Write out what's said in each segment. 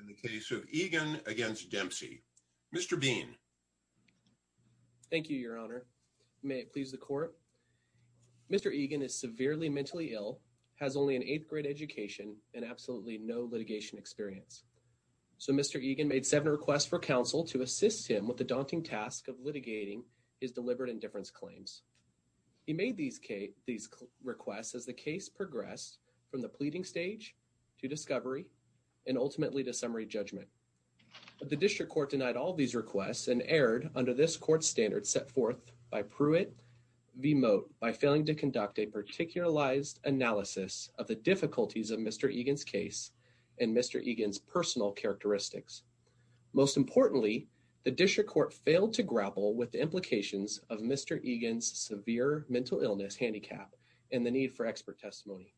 in the case of Eagan against Dempsey. Mr. Bean. Thank you, Your Honor. May it please the court. Mr. Eagan is severely mentally ill, has only an eighth-grade education, and absolutely no litigation experience. So Mr. Eagan made seven requests for counsel to assist him with the daunting task of litigating his deliberate indifference claims. He made these requests as the case progressed from the pleading stage to discovery and ultimately to summary judgment. The district court denied all these requests and erred under this court standard set forth by Pruitt v. Mote by failing to conduct a particularized analysis of the difficulties of Mr. Eagan's case and Mr. Eagan's personal characteristics. Most importantly, the district court failed to grapple with the implications of Mr. Eagan's severe mental illness handicap and the need for expert testimony.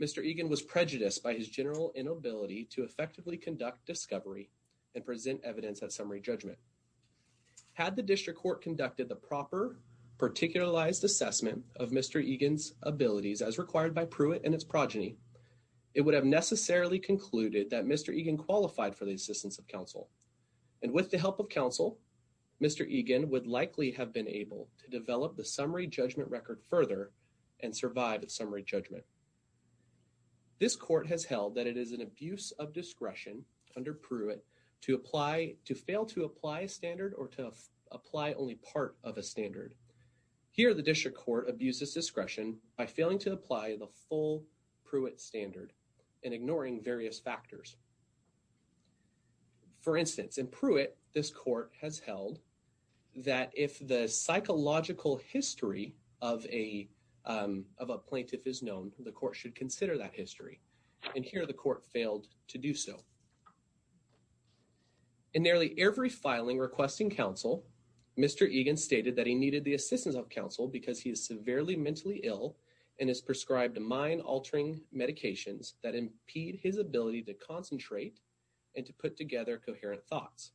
Mr. Eagan was prejudiced by his general inability to effectively conduct discovery and present evidence at summary judgment. Had the district court conducted the proper particularized assessment of Mr. Eagan's abilities as required by Pruitt and its progeny, it would have necessarily concluded that Mr. Eagan qualified for the assistance of counsel. And with the help of counsel, Mr. Eagan would likely have been able to develop the summary judgment record further and survive at summary judgment. This court has held that it is an abuse of discretion under Pruitt to apply, to fail to apply a standard or to apply only part of a standard. Here, the district court abuses discretion by failing to apply the full Pruitt standard and ignoring various factors. For instance, in Pruitt, this court has held that if the psychological history of a of a plaintiff is known, the court should consider that history. And here the court failed to do so. In nearly every filing requesting counsel, Mr. Eagan stated that he needed the assistance of counsel because he is severely mentally ill and is prescribed a mind-altering medications that impede his ability to concentrate and to put together coherent thoughts.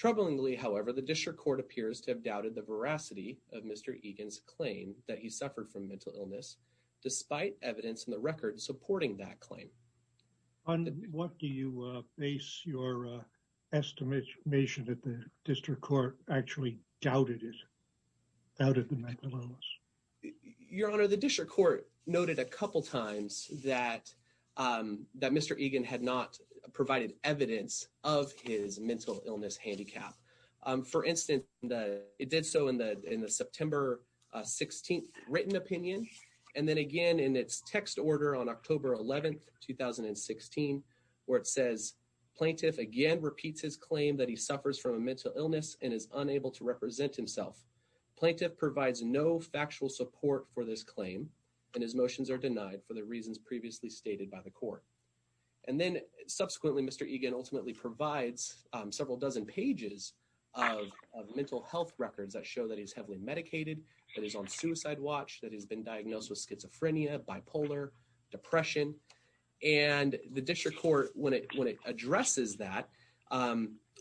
Troublingly, however, the district court appears to have doubted the veracity of Mr. Eagan's claim that he suffered from mental illness despite evidence in the record supporting that claim. What do you base your estimation that the district court actually doubted it out of the magnolias? Your Honor, the district court noted a couple times that Mr. Eagan had not provided evidence of his mental illness handicap. For instance, it did so in the September 16th written opinion. And then again in its text order on October 11th, 2016, where it says plaintiff again repeats his claim that he suffers from a mental illness and is unable to represent himself. Plaintiff provides no factual support for this claim and his motions are denied for the reasons previously stated by the court. And then subsequently Mr. Eagan ultimately provides several dozen pages of mental health records that show that he's heavily medicated, that he's on suicide watch, that he's been diagnosed with schizophrenia, bipolar, depression, and the district court when it addresses that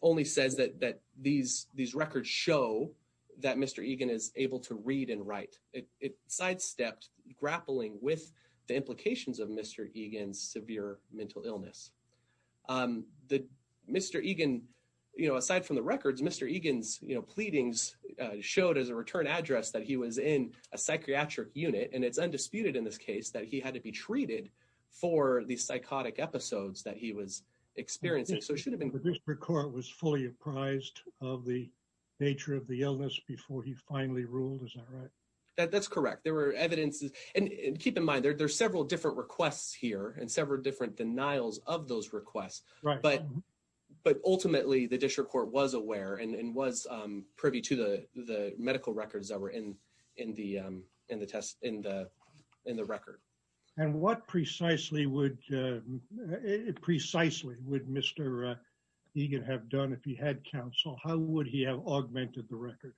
only says that these records show that Mr. Eagan is able to read and write. It sidestepped grappling with the implications of Mr. Eagan severe mental illness. The Mr. Eagan, you know, aside from the records, Mr. Eagan's, you know, pleadings showed as a return address that he was in a psychiatric unit and it's undisputed in this case that he had to be treated for the psychotic episodes that he was experiencing. So it should have been. The district court was fully apprised of the nature of the illness before he finally ruled. Is that right? That's correct. There were evidences and keep in mind there's several different requests here and several different denials of those requests, but but ultimately the district court was aware and was privy to the medical records that were in in the in the test in the in the record. And what precisely would precisely would Mr. Eagan have done if he had counsel? How would he have augmented the record?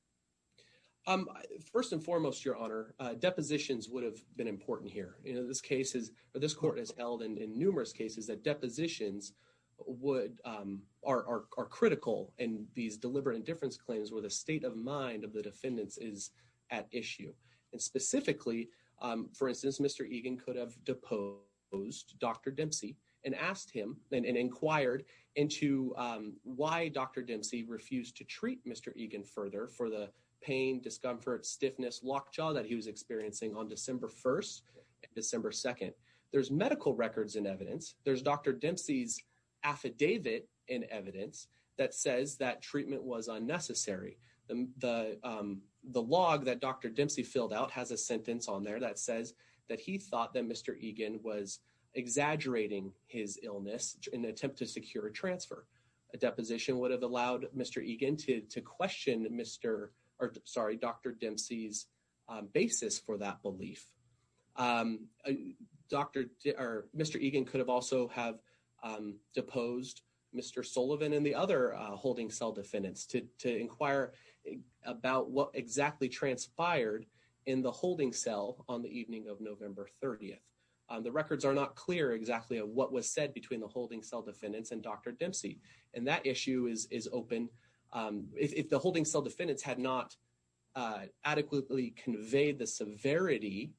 First and foremost, your honor, depositions would have been important here. You know, this case is this court has held in numerous cases that depositions would are critical and these deliberate indifference claims where the state of mind of the defendants is at issue and specifically, for instance, Mr. Eagan could have deposed Dr. Dempsey and asked him and inquired into why Dr. Dempsey refused to treat Mr. Eagan further for the pain, discomfort, stiffness, locked jaw that he was experiencing on December 1st and December 2nd. There's medical records in evidence. There's Dr. Dempsey's affidavit in evidence that says that treatment was unnecessary. The the log that Dr. Dempsey filled out has a sentence on there that says that he thought that Mr. Eagan was exaggerating his illness in an attempt to secure a transfer. A deposition would have allowed Mr. Eagan to question Mr. or sorry, Dr. Dempsey's basis for that belief. Dr. Mr. Eagan could have also have deposed Mr. Sullivan and the other holding cell defendants to inquire about what exactly transpired in the holding cell on the evening of November 30th. The records are not clear exactly what was said between the holding cell defendants and Dr. Dempsey and that issue is open if the holding cell defendants had not adequately conveyed the severity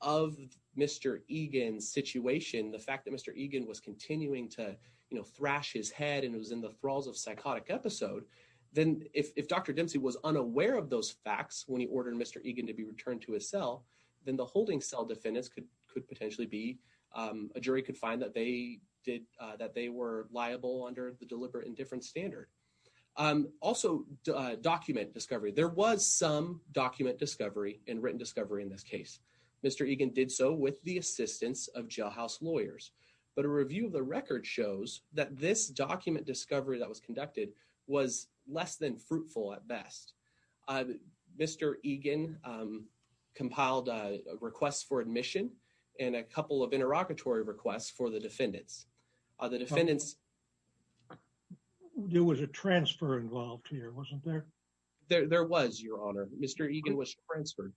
of Mr. Eagan's situation. The fact that Mr. Eagan was continuing to, you know, thrash his head and it was in the thralls of psychotic episode. Then if Dr. Dempsey was unaware of those facts when he ordered Mr. Eagan to be returned to his cell, then the holding cell defendants could potentially be a jury could find that they did that they were liable under the deliberate indifference standard. Also document discovery. There was some document discovery and written discovery in this case. Mr. Eagan did so with the assistance of jailhouse lawyers, but a review of the record shows that this document discovery that was conducted was less than fruitful at best. Mr. Eagan compiled a request for admission and a couple of interrogatory requests for the defendants. The defendants There was a transfer involved here wasn't there? There was your honor. Mr. Eagan was transferred.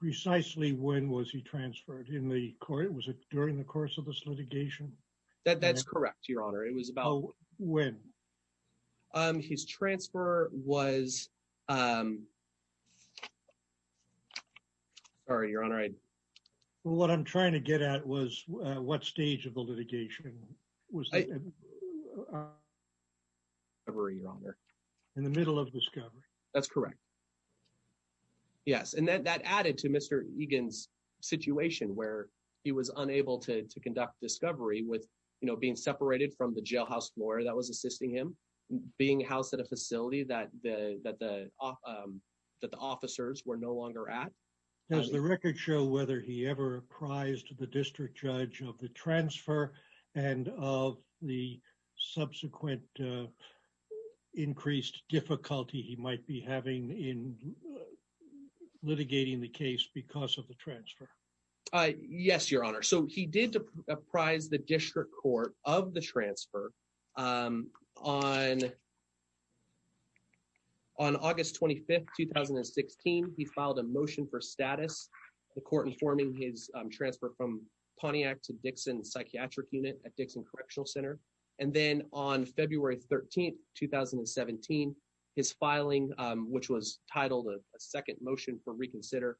Precisely. When was he transferred in the court? Was it during the course of this litigation? That that's correct. Your honor. It was about when his transfer was sorry, your honor. I what I'm trying to get at was what stage of the litigation was ever your honor in the middle of discovery. That's correct. Yes, and then that added to Mr. Eagan's situation where he was unable to conduct discovery with, you know, being separated from the jailhouse lawyer that was assisting him being housed at a facility that the that the officers were no longer at. Does the record show whether he ever apprised the district judge of the transfer and of the subsequent increased difficulty he might be having in litigating the case because of the transfer. Yes, your honor. So he did apprise the district court of the transfer on on August 25th, 2016. He filed a motion for status the court informing his transfer Correctional Center. And then on February 13th, 2017 is filing which was titled a second motion for reconsider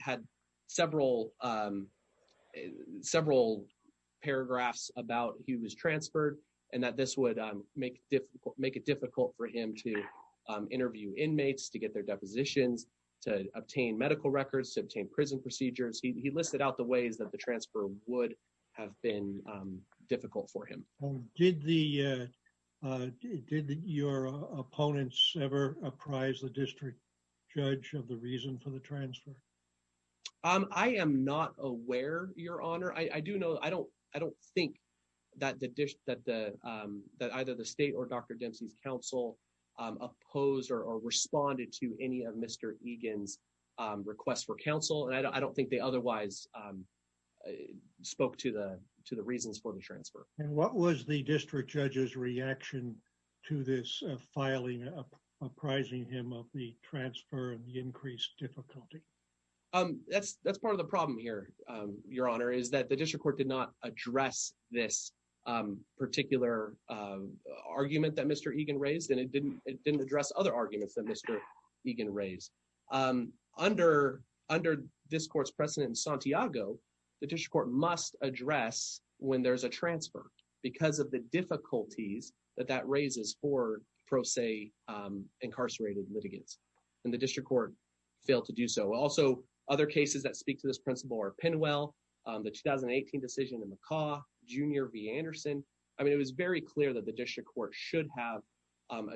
had several several paragraphs about he was transferred and that this would make difficult make it difficult for him to interview inmates to get their depositions to obtain medical records to obtain prison procedures. He listed out the ways that the transfer would have been difficult for him. Did the did your opponents ever apprise the district judge of the reason for the transfer? I am not aware your honor. I do know. I don't I don't think that the dish that the that either the state or dr. Dempsey's counsel opposed or responded to any of mr. Egan's requests for counsel and I don't think they otherwise spoke to the to the reasons for the transfer. And what was the district judge's reaction to this filing of apprising him of the transfer of the increased difficulty? That's that's part of the problem here. Your honor. Is that the district court did not address this particular argument that mr. Egan raised and it didn't it didn't address other arguments that mr. Egan raised under under this court's precedent in Santiago. The district court must address when there's a transfer because of the difficulties that that raises for pro se incarcerated litigants and the district court failed to do. So also other cases that speak to this principle or pin. Well, the 2018 decision in the car Junior v. Anderson.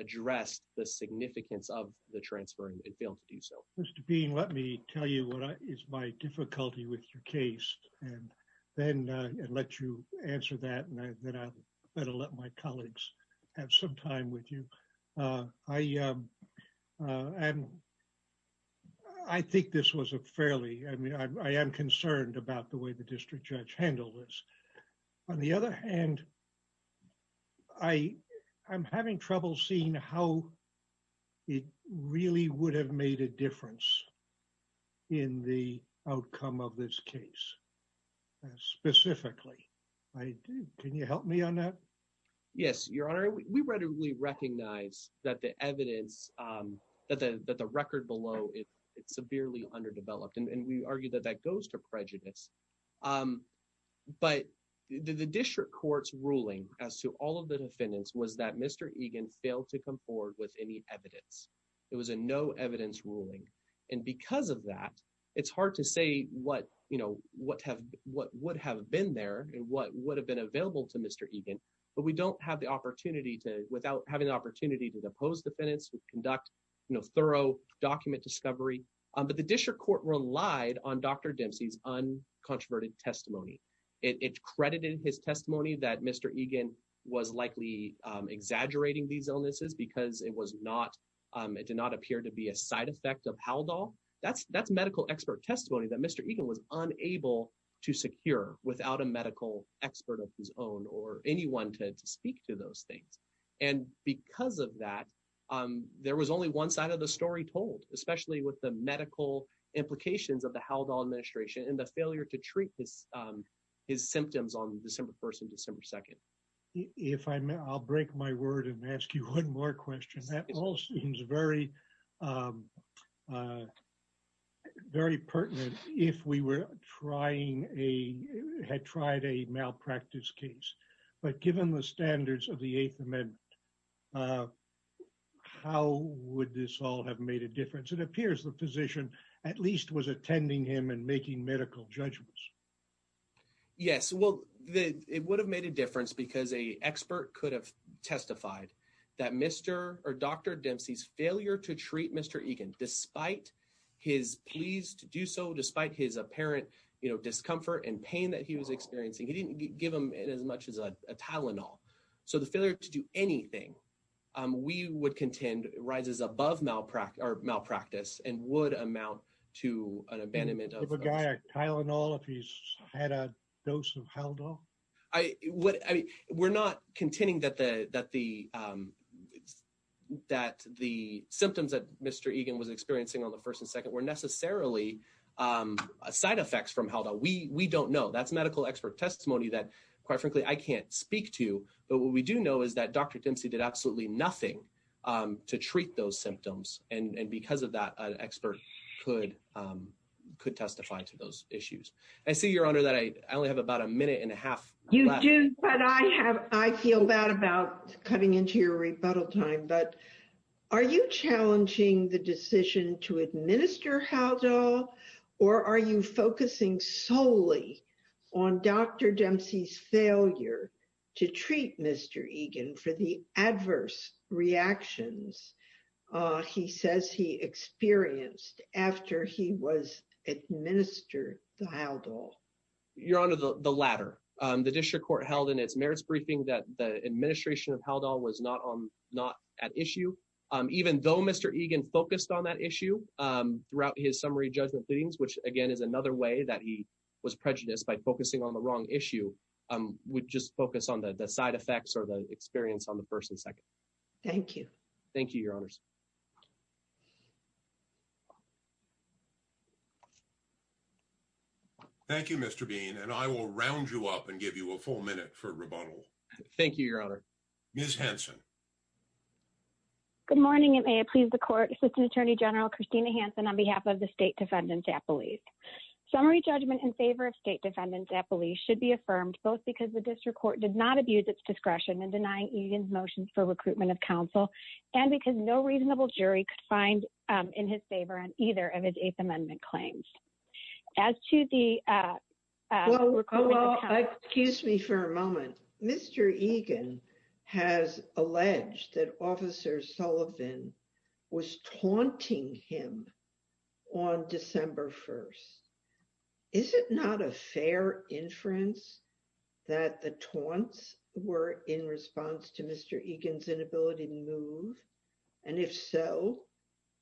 addressed the significance of the transfer and failed to do so. Mr. Bean. Let me tell you what is my difficulty with your case and then let you answer that and then I better let my colleagues have some time with you. I am I think this was a fairly I mean, I am concerned about the way the district judge handle this on the other hand. I I'm having trouble seeing how it really would have made a difference in the outcome of this case specifically. I do. Can you help me on that? Yes, your honor. We readily recognize that the evidence that the that the record below it it severely underdeveloped and we argue that that goes to prejudice. But the district court's ruling as to all of the defendants was that Mr. Egan failed to come forward with any evidence. It was a no evidence ruling and because of that it's hard to say what you know, what have what would have been there and what would have been available to Mr. Egan, but we don't have the opportunity to without having the opportunity to oppose defendants who conduct, you know, thorough document discovery, but the district court relied on dr. Dempsey's uncontroverted testimony. It credited his testimony that Mr. Egan was likely exaggerating these illnesses because it was not it did not appear to be a side effect of how doll that's that's medical expert testimony that Mr. Egan was unable to secure without a medical expert of his own or anyone to speak to those things and because of that there was only one side of the story told especially with the medical implications of the how the administration and the failure to treat this his symptoms on December 1st and December 2nd. If I'm I'll break my word and ask you one more question that all seems very very pertinent. If we were trying a had tried a malpractice case, but given the standards of the 8th Amendment, how would this all have made a difference? It appears the physician at least was attending him and making medical judgments. Yes, well, the it would have made a difference because a expert could have testified that Mr. Or dr. Dempsey's failure to treat Mr. Egan despite his pleased to do so despite his apparent, you know, discomfort and pain that he was experiencing. He didn't give him in as much as a Tylenol. So the failure to do anything we would contend rises above malpractice or malpractice and would amount to an abandonment of a guy Tylenol if he's had a dose of held off. I what I mean, we're not contending that the that the that the symptoms that Mr. Egan was experiencing on the first and second were necessarily side effects from how that we we don't know that's medical expert testimony that quite frankly, I can't speak to but what we do know is that dr. Dempsey did absolutely nothing to treat those symptoms and because of that an expert could could testify to those issues. I see your honor that I only have about a minute and a half you do but I have I feel bad about coming into your rebuttal time, but are you challenging the decision to administer how to or are you focusing solely on dr. Dempsey's failure to treat Mr. He says he experienced after he was administered the house or your honor the the latter the district court held in its merits briefing that the administration of held on was not on not at issue even though Mr. Egan focused on that issue throughout his summary judgment things which again is another way that he was prejudiced by focusing on the wrong issue would just focus on the side effects or the experience on the first and second. Thank you. Thank you, your honors. Thank you. Mr. Bean and I will round you up and give you a full minute for rebuttal. Thank you. Your honor. Ms. Hanson. Good morning. It may please the court assistant attorney general Christina Hanson on behalf of the state defendants at police summary judgment in favor of state defendants at police should be affirmed both because the district court did not abuse its discretion and deny even motions for recruitment of counsel and because no reasonable jury could find in his favor on either of his eighth amendment claims as to the excuse me for a moment. Mr. Egan has alleged that officer Sullivan was taunting him on December 1st. Is it not a fair inference that the taunts were in response to Mr. Egan's inability to move and if so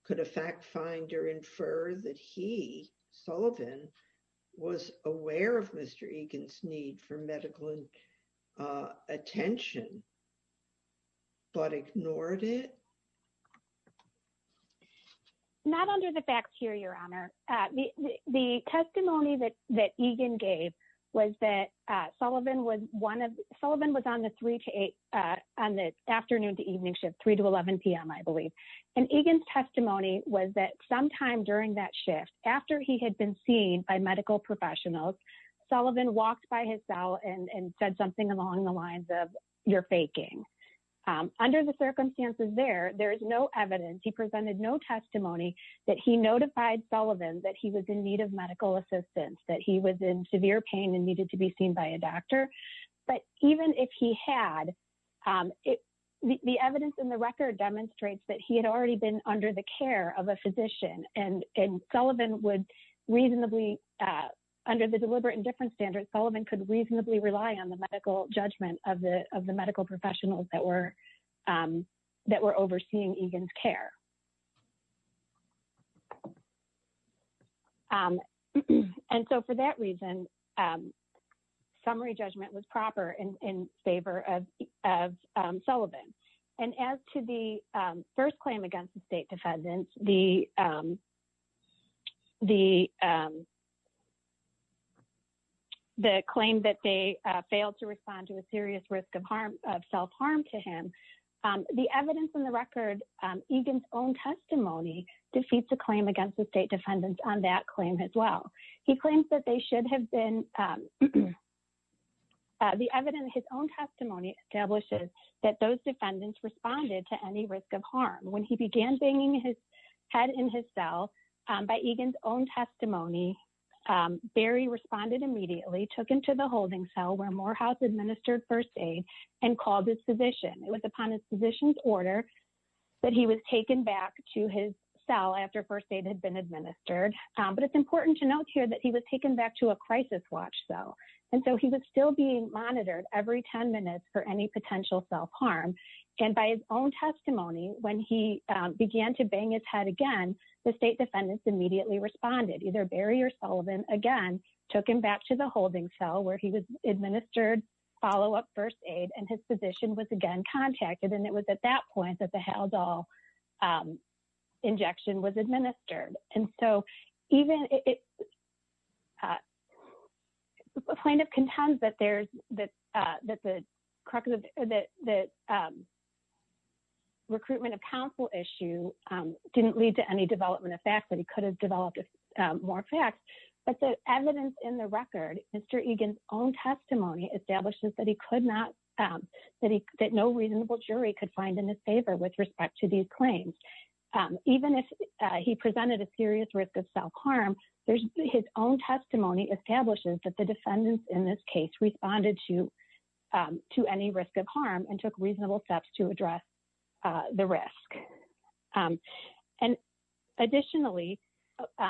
could a fact finder infer that he Sullivan was aware of Mr. Egan's need for medical attention but ignored it. Not under the facts here. Your honor the testimony that that Egan gave was that Sullivan was one of Sullivan was on the 3 to 8 on the afternoon to evening shift 3 to 11 p.m. I believe and Egan's testimony was that sometime during that shift after he had been seen by medical professionals Sullivan walked by his cell and said something along the lines of your faking under the circumstances there. There is no evidence. He presented no testimony that he notified Sullivan that he was in need of medical assistance that he was in severe pain and needed to be seen by a doctor but even if he had it the evidence in the record demonstrates that he had already been under the care of a physician and and Sullivan would reasonably under the deliberate indifference standard Sullivan could reasonably rely on the medical judgment of the of the medical professionals that were that were overseeing Egan's care. And so for that reason summary judgment was proper in favor of Sullivan and as to the first claim against the state defendants the the the claim that they failed to respond to a serious risk of harm of self-harm to him the evidence in the record Egan's own testimony defeats a claim against the state defendants on that claim as well. He claims that they should have been the evidence his own testimony establishes that those defendants responded to any risk of harm when he began banging his head in his cell by Egan's own testimony Barry responded immediately took him to the holding cell where Morehouse administered first aid and called his physician. It was upon his physician's order that he was taken back to his cell after first aid had been administered. But it's important to note here that he was taken back to a crisis watch cell and so he was still being monitored every 10 minutes for any potential self-harm and by his own testimony when he the defendants immediately responded either Barry or Sullivan again took him back to the holding cell where he was administered follow-up first aid and his physician was again contacted and it was at that point that the Haldol injection was administered. And so even it plaintiff contends that there's that that the recruitment of counsel issue didn't lead to any development of fact that he could have developed more facts, but the evidence in the record. Mr. Egan's own testimony establishes that he could not that he could that no reasonable jury could find in his favor with respect to these claims. Even if he presented a serious risk of self-harm. There's his own testimony establishes that the defendants in this case responded to to any risk of harm and took reasonable steps to address the risk. And additionally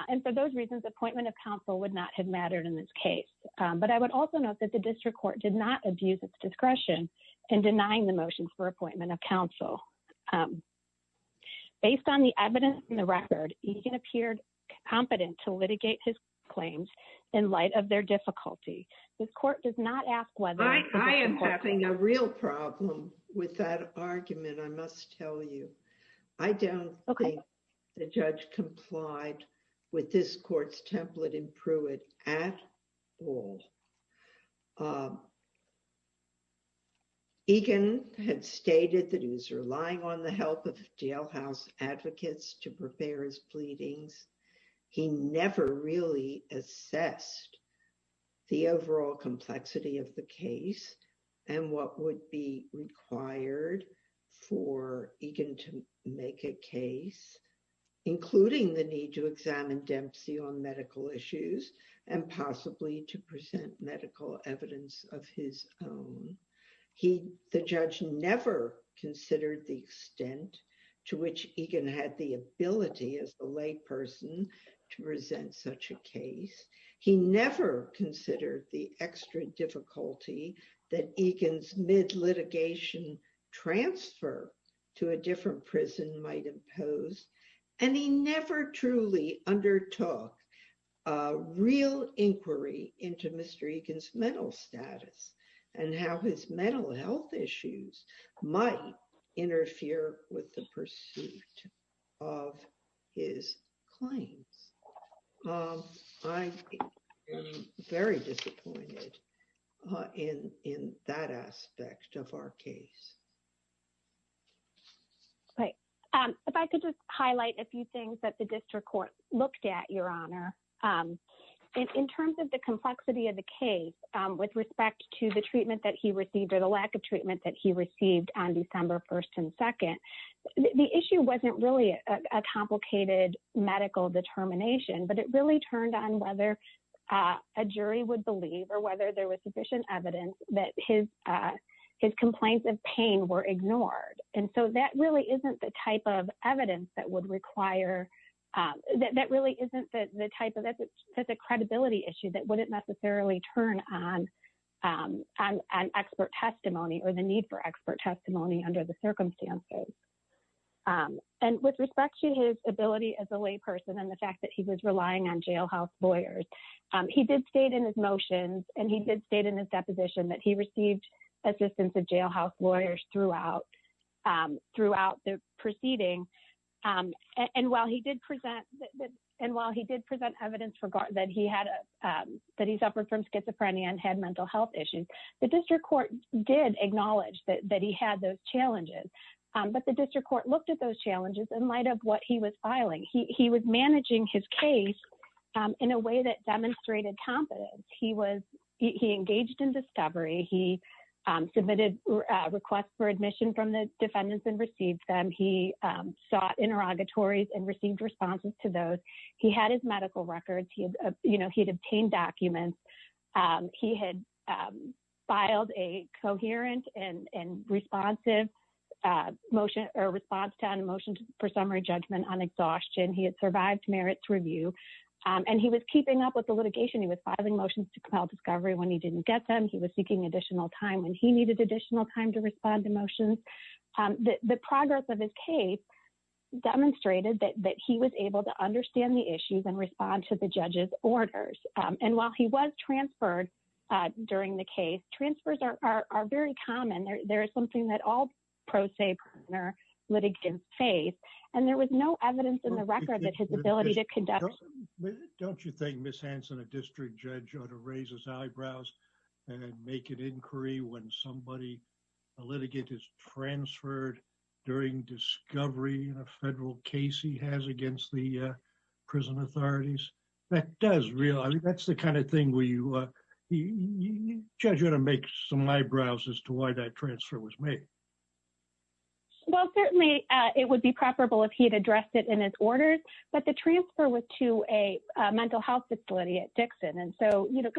and for those reasons appointment of counsel would not have mattered in this case, but I would also note that the district court did not abuse its discretion and denying the motion for appointment of counsel. Based on the evidence in the record. You can appeared competent to litigate his claims in light of their difficulty. This court does not ask whether I am having a real problem with that argument. I must tell you I don't think the judge complied with this court's template in Pruitt at all. Egan had stated that he was relying on the help of jailhouse advocates to prepare his pleadings. He never really assessed the overall complexity of the case and what would be required for Egan to make a case including the need to examine Dempsey on medical issues and possibly to present medical evidence of his own. He the judge never considered the extent to which Egan had the ability as a layperson to present such a case. He never considered the extra difficulty that Egan's mid litigation transfer to a different prison might impose and he never truly undertook real inquiry into Mr. Egan's mental status and how his mental health issues might interfere with the pursuit of his claims. I'm very disappointed in that aspect of our case. If I could just highlight a few things that the district court looked at your honor in terms of the complexity of the case with respect to the treatment that he received or the lack of treatment that he received on December 1st and 2nd. The issue wasn't really a complicated medical determination, but it really turned on whether a jury would believe or whether there was sufficient evidence that his his complaints of pain were ignored. And so that really isn't the type of evidence that would require that really isn't the type of that's a credibility issue that wouldn't necessarily turn on an expert testimony or the need for expert testimony under the circumstances. And with respect to his ability as a layperson and the fact that he was relying on jailhouse lawyers. He did state in his motions and he did state in his deposition that he received assistance of jailhouse lawyers throughout throughout the proceeding. And while he did present and while he did present evidence for guard that he had a that he suffered from schizophrenia and had mental health issues. The district court did acknowledge that he had those challenges, but the district court looked at those challenges in light of what he was filing. He was managing his case in a way that demonstrated confidence. He was he engaged in discovery. He submitted requests for admission from the defendants and received them. He sought interrogatories and received responses to those. He had his medical records. He had, you know, he'd obtained documents. He had filed a coherent and responsive motion or response to an emotion for summary judgment on exhaustion. He had survived merits review and he was keeping up with the litigation. He was filing motions to compel discovery when he didn't get them. He was seeking additional time when he needed additional time to respond to motions that the progress of his case demonstrated that he was able to understand the issues and respond to the judge's orders. And while he was transferred during the case transfers are very common. There is something that all pro se partner litigants faith and there was no evidence in the record that his ability to conduct. Don't you think Miss Hanson a district judge ought to raise his eyebrows and make an inquiry when somebody a litigant is transferred during discovery in a federal case he has against the prison authorities that does realize that's the kind of thing where you judge ought to make some eyebrows as to why that transfer was made. Well, certainly it would be preferable if he had addressed it in his orders, but the transfer was to a mental health facility at Dixon. And so, you know,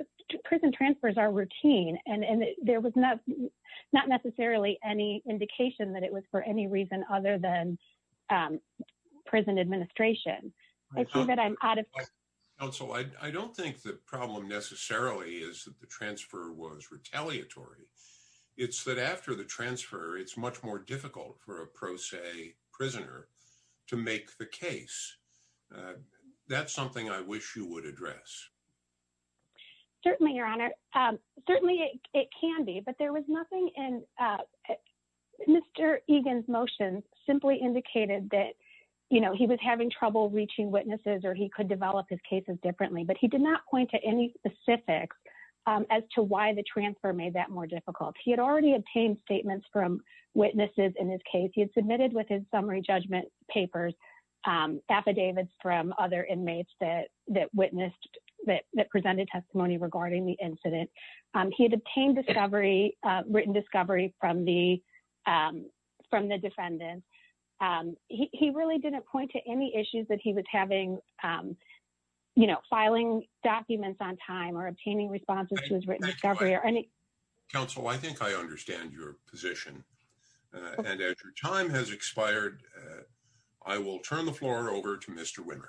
prison transfers are routine and and there was not not necessarily any indication that it was for any reason other than prison administration. I think that I'm out of council. I don't think the problem necessarily is that the transfer was retaliatory. It's that after the transfer it's much more difficult for a pro se prisoner to make the case. That's something I wish you would address. Certainly, your honor. Certainly it can be but there was nothing in Mr. Egan's motion simply indicated that you know, he was having trouble reaching witnesses or he could develop his cases differently, but he did not point to any specifics as to why the transfer made that more difficult. He had already obtained statements from witnesses in his case. He had submitted with his summary judgment papers affidavits from other inmates that that witnessed that presented testimony regarding the incident. He had obtained discovery written discovery from the from the defendant. He really didn't point to any issues that he was having you know, filing documents on time or obtaining responses to his written discovery or any counsel. I think I understand your position and as your time has expired, I will turn the floor over to Mr. Wimmer.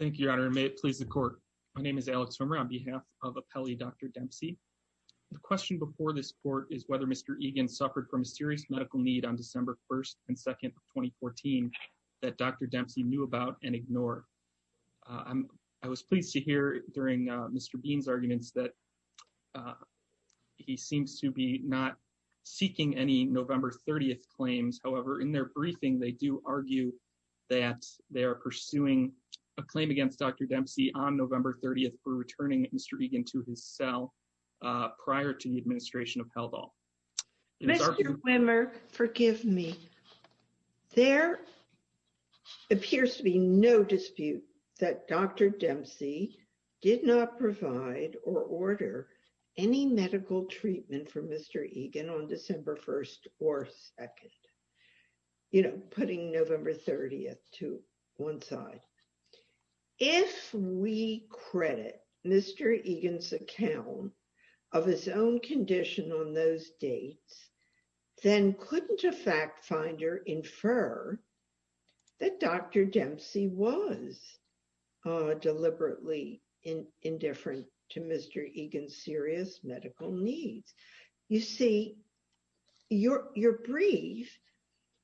Thank you, your honor. May it please the court. My name is Alex swimmer on behalf of a peli. Dr. Dempsey. The question before this court is whether Mr. Egan suffered from a serious medical need on December 1st and 2nd of 2014 that Dr. Dempsey knew about and ignore. I was pleased to hear during Mr. Dean's arguments that he seems to be not seeking any November 30th claims. However, in their briefing, they do argue that they are pursuing a claim against. Dr. Dempsey on November 30th for returning Mr. Egan to his cell prior to the administration of health all Mr. Wimmer, forgive me. There appears to be no dispute that Dr. Dempsey did not provide or order any medical treatment for Mr. Egan on December 1st or 2nd, you know, putting November 30th to one side. If we credit Mr. Egan's account of his own condition on those dates, then couldn't a fact finder infer that Dr. Dempsey was deliberately indifferent to Mr. Egan's serious medical needs. You see, your brief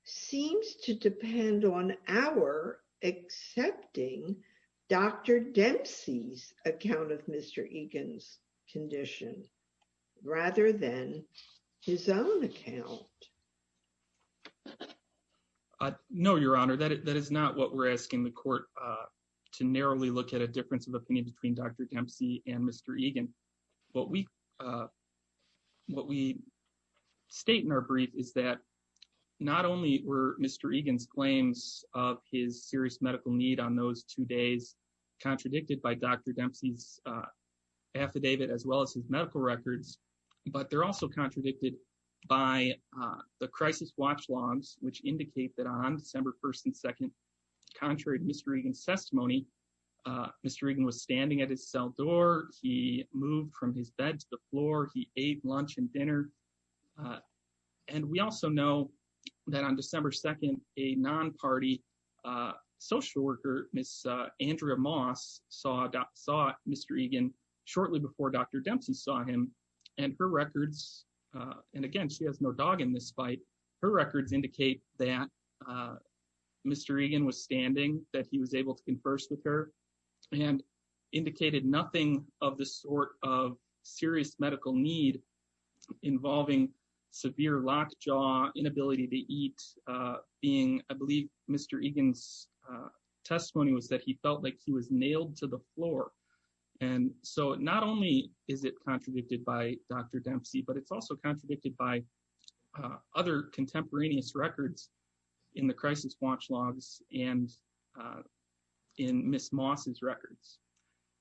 seems to depend on our accepting Dr. Dempsey's account of Mr. Egan's condition rather than his own account. No, Your Honor. That is not what we're asking the court to narrowly look at a difference of opinion between Dr. Dempsey and Mr. Egan. What we what we state in our brief is that not only were Mr. Egan's claims of his serious medical need on those two days contradicted by Dr. Dempsey's affidavit as well as his medical records, but they're also contradicted by the crisis watch logs which indicate that on December 1st and 2nd contrary to Mr. Egan's testimony, Mr. Egan was standing at his cell door. He moved from his bed to the floor. He ate lunch and dinner and we also know that on December 2nd a non-party social worker, Ms. Andrea Moss saw Mr. Egan shortly before Dr. Dempsey saw him and her records and again, she has no dog in this fight. Her records indicate that Mr. Egan was standing that he was able to converse with her and indicated nothing of the sort of serious medical need involving severe lockjaw, inability to eat, being I believe Mr. Egan's testimony was that he felt like he was nailed to the floor. And so not only is it contradicted by Dr. Dempsey, but it's also contradicted by other contemporaneous records in the Crisis Watch Logs and in Ms. Moss's records.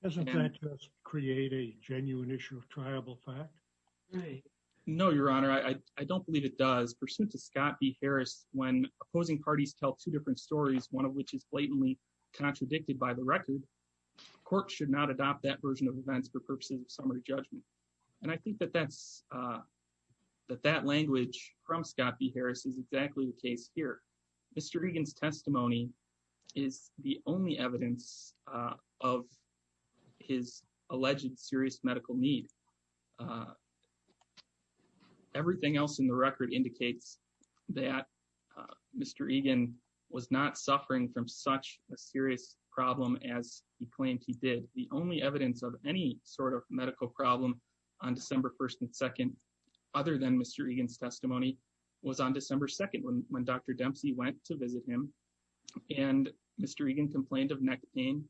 Doesn't that just create a genuine issue of triable fact? No, your honor. I don't believe it does. Pursuit to Scott B. Harris, when opposing parties tell two different stories, one of which is blatantly contradicted by the record, courts should not adopt that version of events for purposes of summary judgment. And I think that that's that that language from Scott B. Harris is exactly the case here. Mr. Egan's testimony is the only evidence of his alleged serious medical need. Everything else in the record indicates that Mr. Egan was not suffering from such a serious problem as he claimed he did. The only evidence of any sort of medical problem on December 1st and 2nd other than Mr. Egan's testimony was on December 2nd when Dr. Dempsey went to visit him and Mr. Egan complained of neck pain.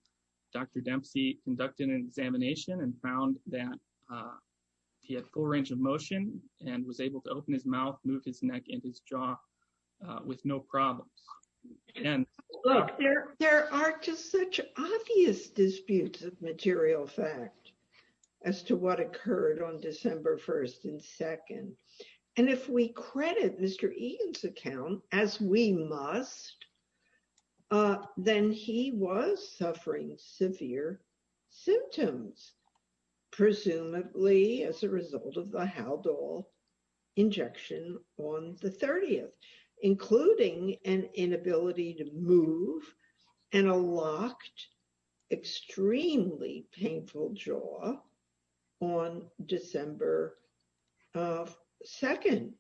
Dr. Dempsey conducted an examination and found that he had full range of motion and was able to open his mouth, move his neck, and his jaw with no problems. And there are just such obvious disputes of material fact as to what occurred on December 1st and 2nd. And if we credit Mr. Egan's account, as we must, then he was suffering severe symptoms, presumably as a result of the Haldol injection on the 30th, including an inability to move and a locked extremely painful jaw on December 2nd.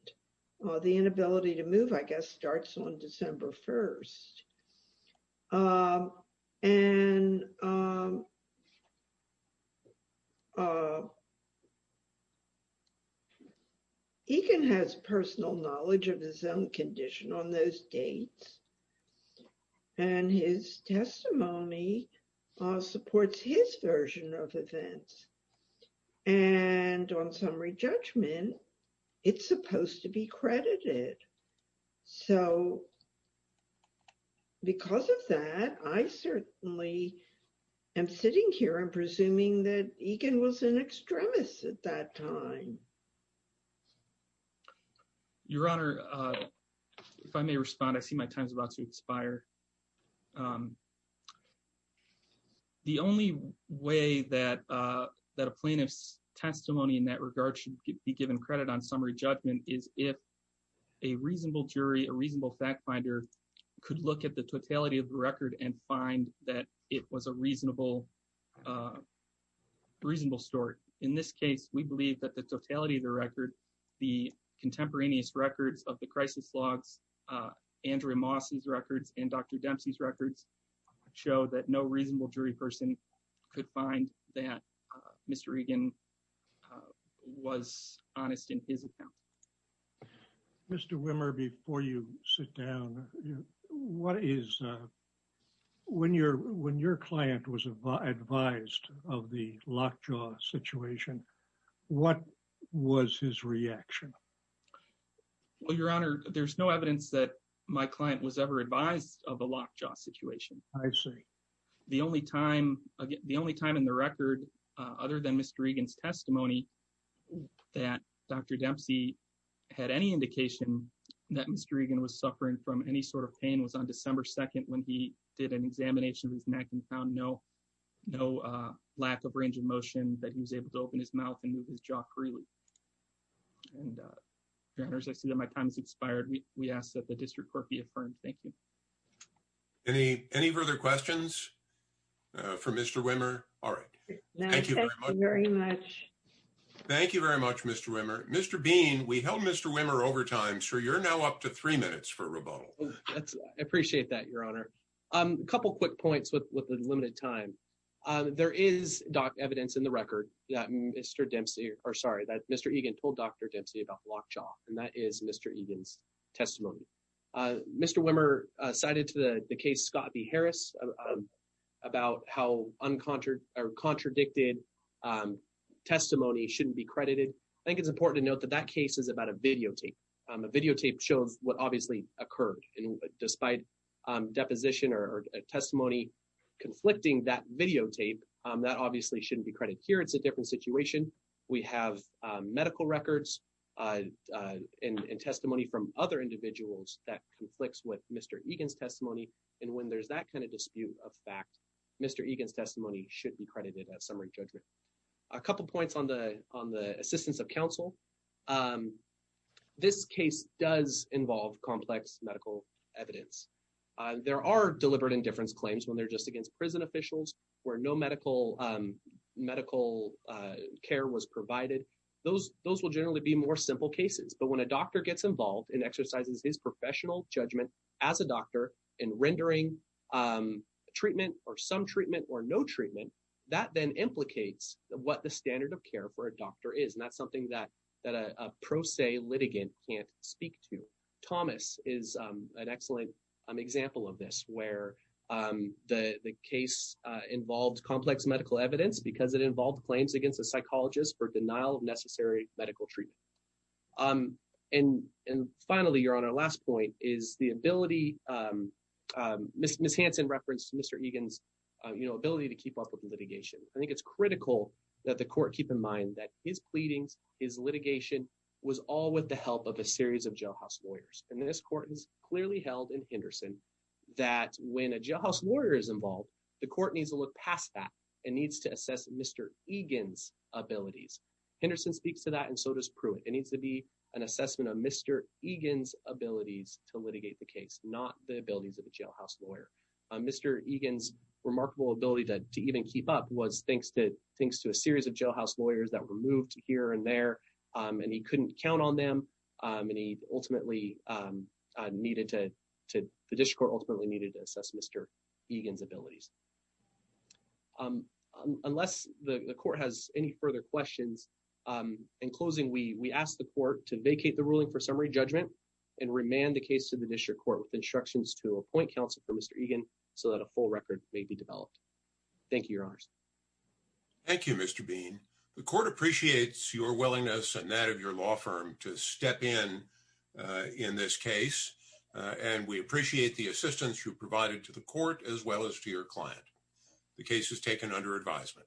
The inability to move, I guess, starts on December 1st. And Egan has personal knowledge of his own condition on those dates and his testimony supports his version of events. And on summary judgment, it's supposed to be credited. So because of that, I certainly am sitting here and presuming that Egan was an extremist at that time. Your Honor, if I may respond, I see my time is about to expire. The only way that a plaintiff's testimony in that regard should be given credit on summary judgment is if a reasonable jury, a reasonable fact finder, could look at the totality of the record and find that it was a reasonable story. In this case, we believe that the totality of the record, the contemporaneous records of the crisis logs, Andrew Moss's records, and Dr. Dempsey's records show that no reasonable jury person could find that Mr. Egan was honest in his account. Mr. Wimmer, before you sit down, what is when your client was advised of the locked jaw situation, what was his reaction? Well, Your Honor, there's no evidence that my client was ever advised of a locked jaw situation. I see. The only time, again, the only time in the record other than Mr. Egan's testimony that Dr. Dempsey had any indication that Mr. Egan was suffering from any sort of pain was on December 2nd when he did an examination of his neck and found no lack of range of motion that he was able to open his mouth and move his jaw freely. And Your Honor, I see that my time has expired. We ask that the District Court be affirmed. Thank you. Any further questions for Mr. Wimmer? All right. Thank you very much. Thank you very much, Mr. Wimmer. Mr. Bean, we held Mr. Wimmer overtime, so you're now up to three minutes for rebuttal. I appreciate that, Your Honor. A couple quick points with the limited time. There is doc evidence in the record that Mr. Dempsey, or sorry, that Mr. Egan told Dr. Dempsey about blocked jaw, and that is Mr. Egan's testimony. Mr. Wimmer cited to the case Scott B. Harris about how contradicted testimony shouldn't be credited. I think it's important to note that that case is about a videotape. A videotape shows what obviously occurred. Despite deposition or testimony conflicting that videotape, that obviously shouldn't be credited here. It's a different situation. We have medical records and testimony from other individuals that conflicts with Mr. Egan's testimony. And when there's that kind of dispute of fact, Mr. Egan's testimony should be credited as summary judgment. A couple points on the assistance of counsel. This case does involve complex medical evidence. There are deliberate indifference claims when they're just against prison officials where no medical medical care was provided. Those will generally be more simple cases. But when a doctor gets involved and exercises his professional judgment as a doctor in rendering treatment or some treatment or no treatment, that then implicates what the standard of care for a doctor is. And that's something that a pro se litigant can't speak to. Thomas is an excellent example of this where the case involved complex medical evidence because it involved claims against a psychologist for denial of necessary medical treatment. And finally, Your Honor, last point is the ability Ms. Hansen referenced Mr. Egan's ability to keep up with the litigation. I think it's critical that the court keep in mind that his pleadings, his litigation, was all with the help of a series of jailhouse lawyers. And this court has clearly held in Henderson that when a jailhouse lawyer is involved, the court needs to look past that and needs to assess Mr. Egan's abilities. Henderson speaks to that and so does Pruitt. It needs to be an assessment of Mr. Egan's abilities to litigate the case, not the abilities of a jailhouse lawyer. Mr. Egan's remarkable ability to even keep up was thanks to a series of jailhouse lawyers that were moved here and there and he couldn't count on them and he ultimately needed to, the district court ultimately needed to assess Mr. Egan's abilities. Unless the court has any further questions, in closing, we ask the court to vacate the ruling for summary judgment and remand the case to the district court with instructions to appoint counsel for Mr. Egan so that a full record may be developed. Thank you, Your Honors. Thank you, Mr. Bean. The court appreciates your willingness and that of your law firm to step in in this case and we appreciate the assistance you provided to the court as well as to your client. The case is taken under advisement.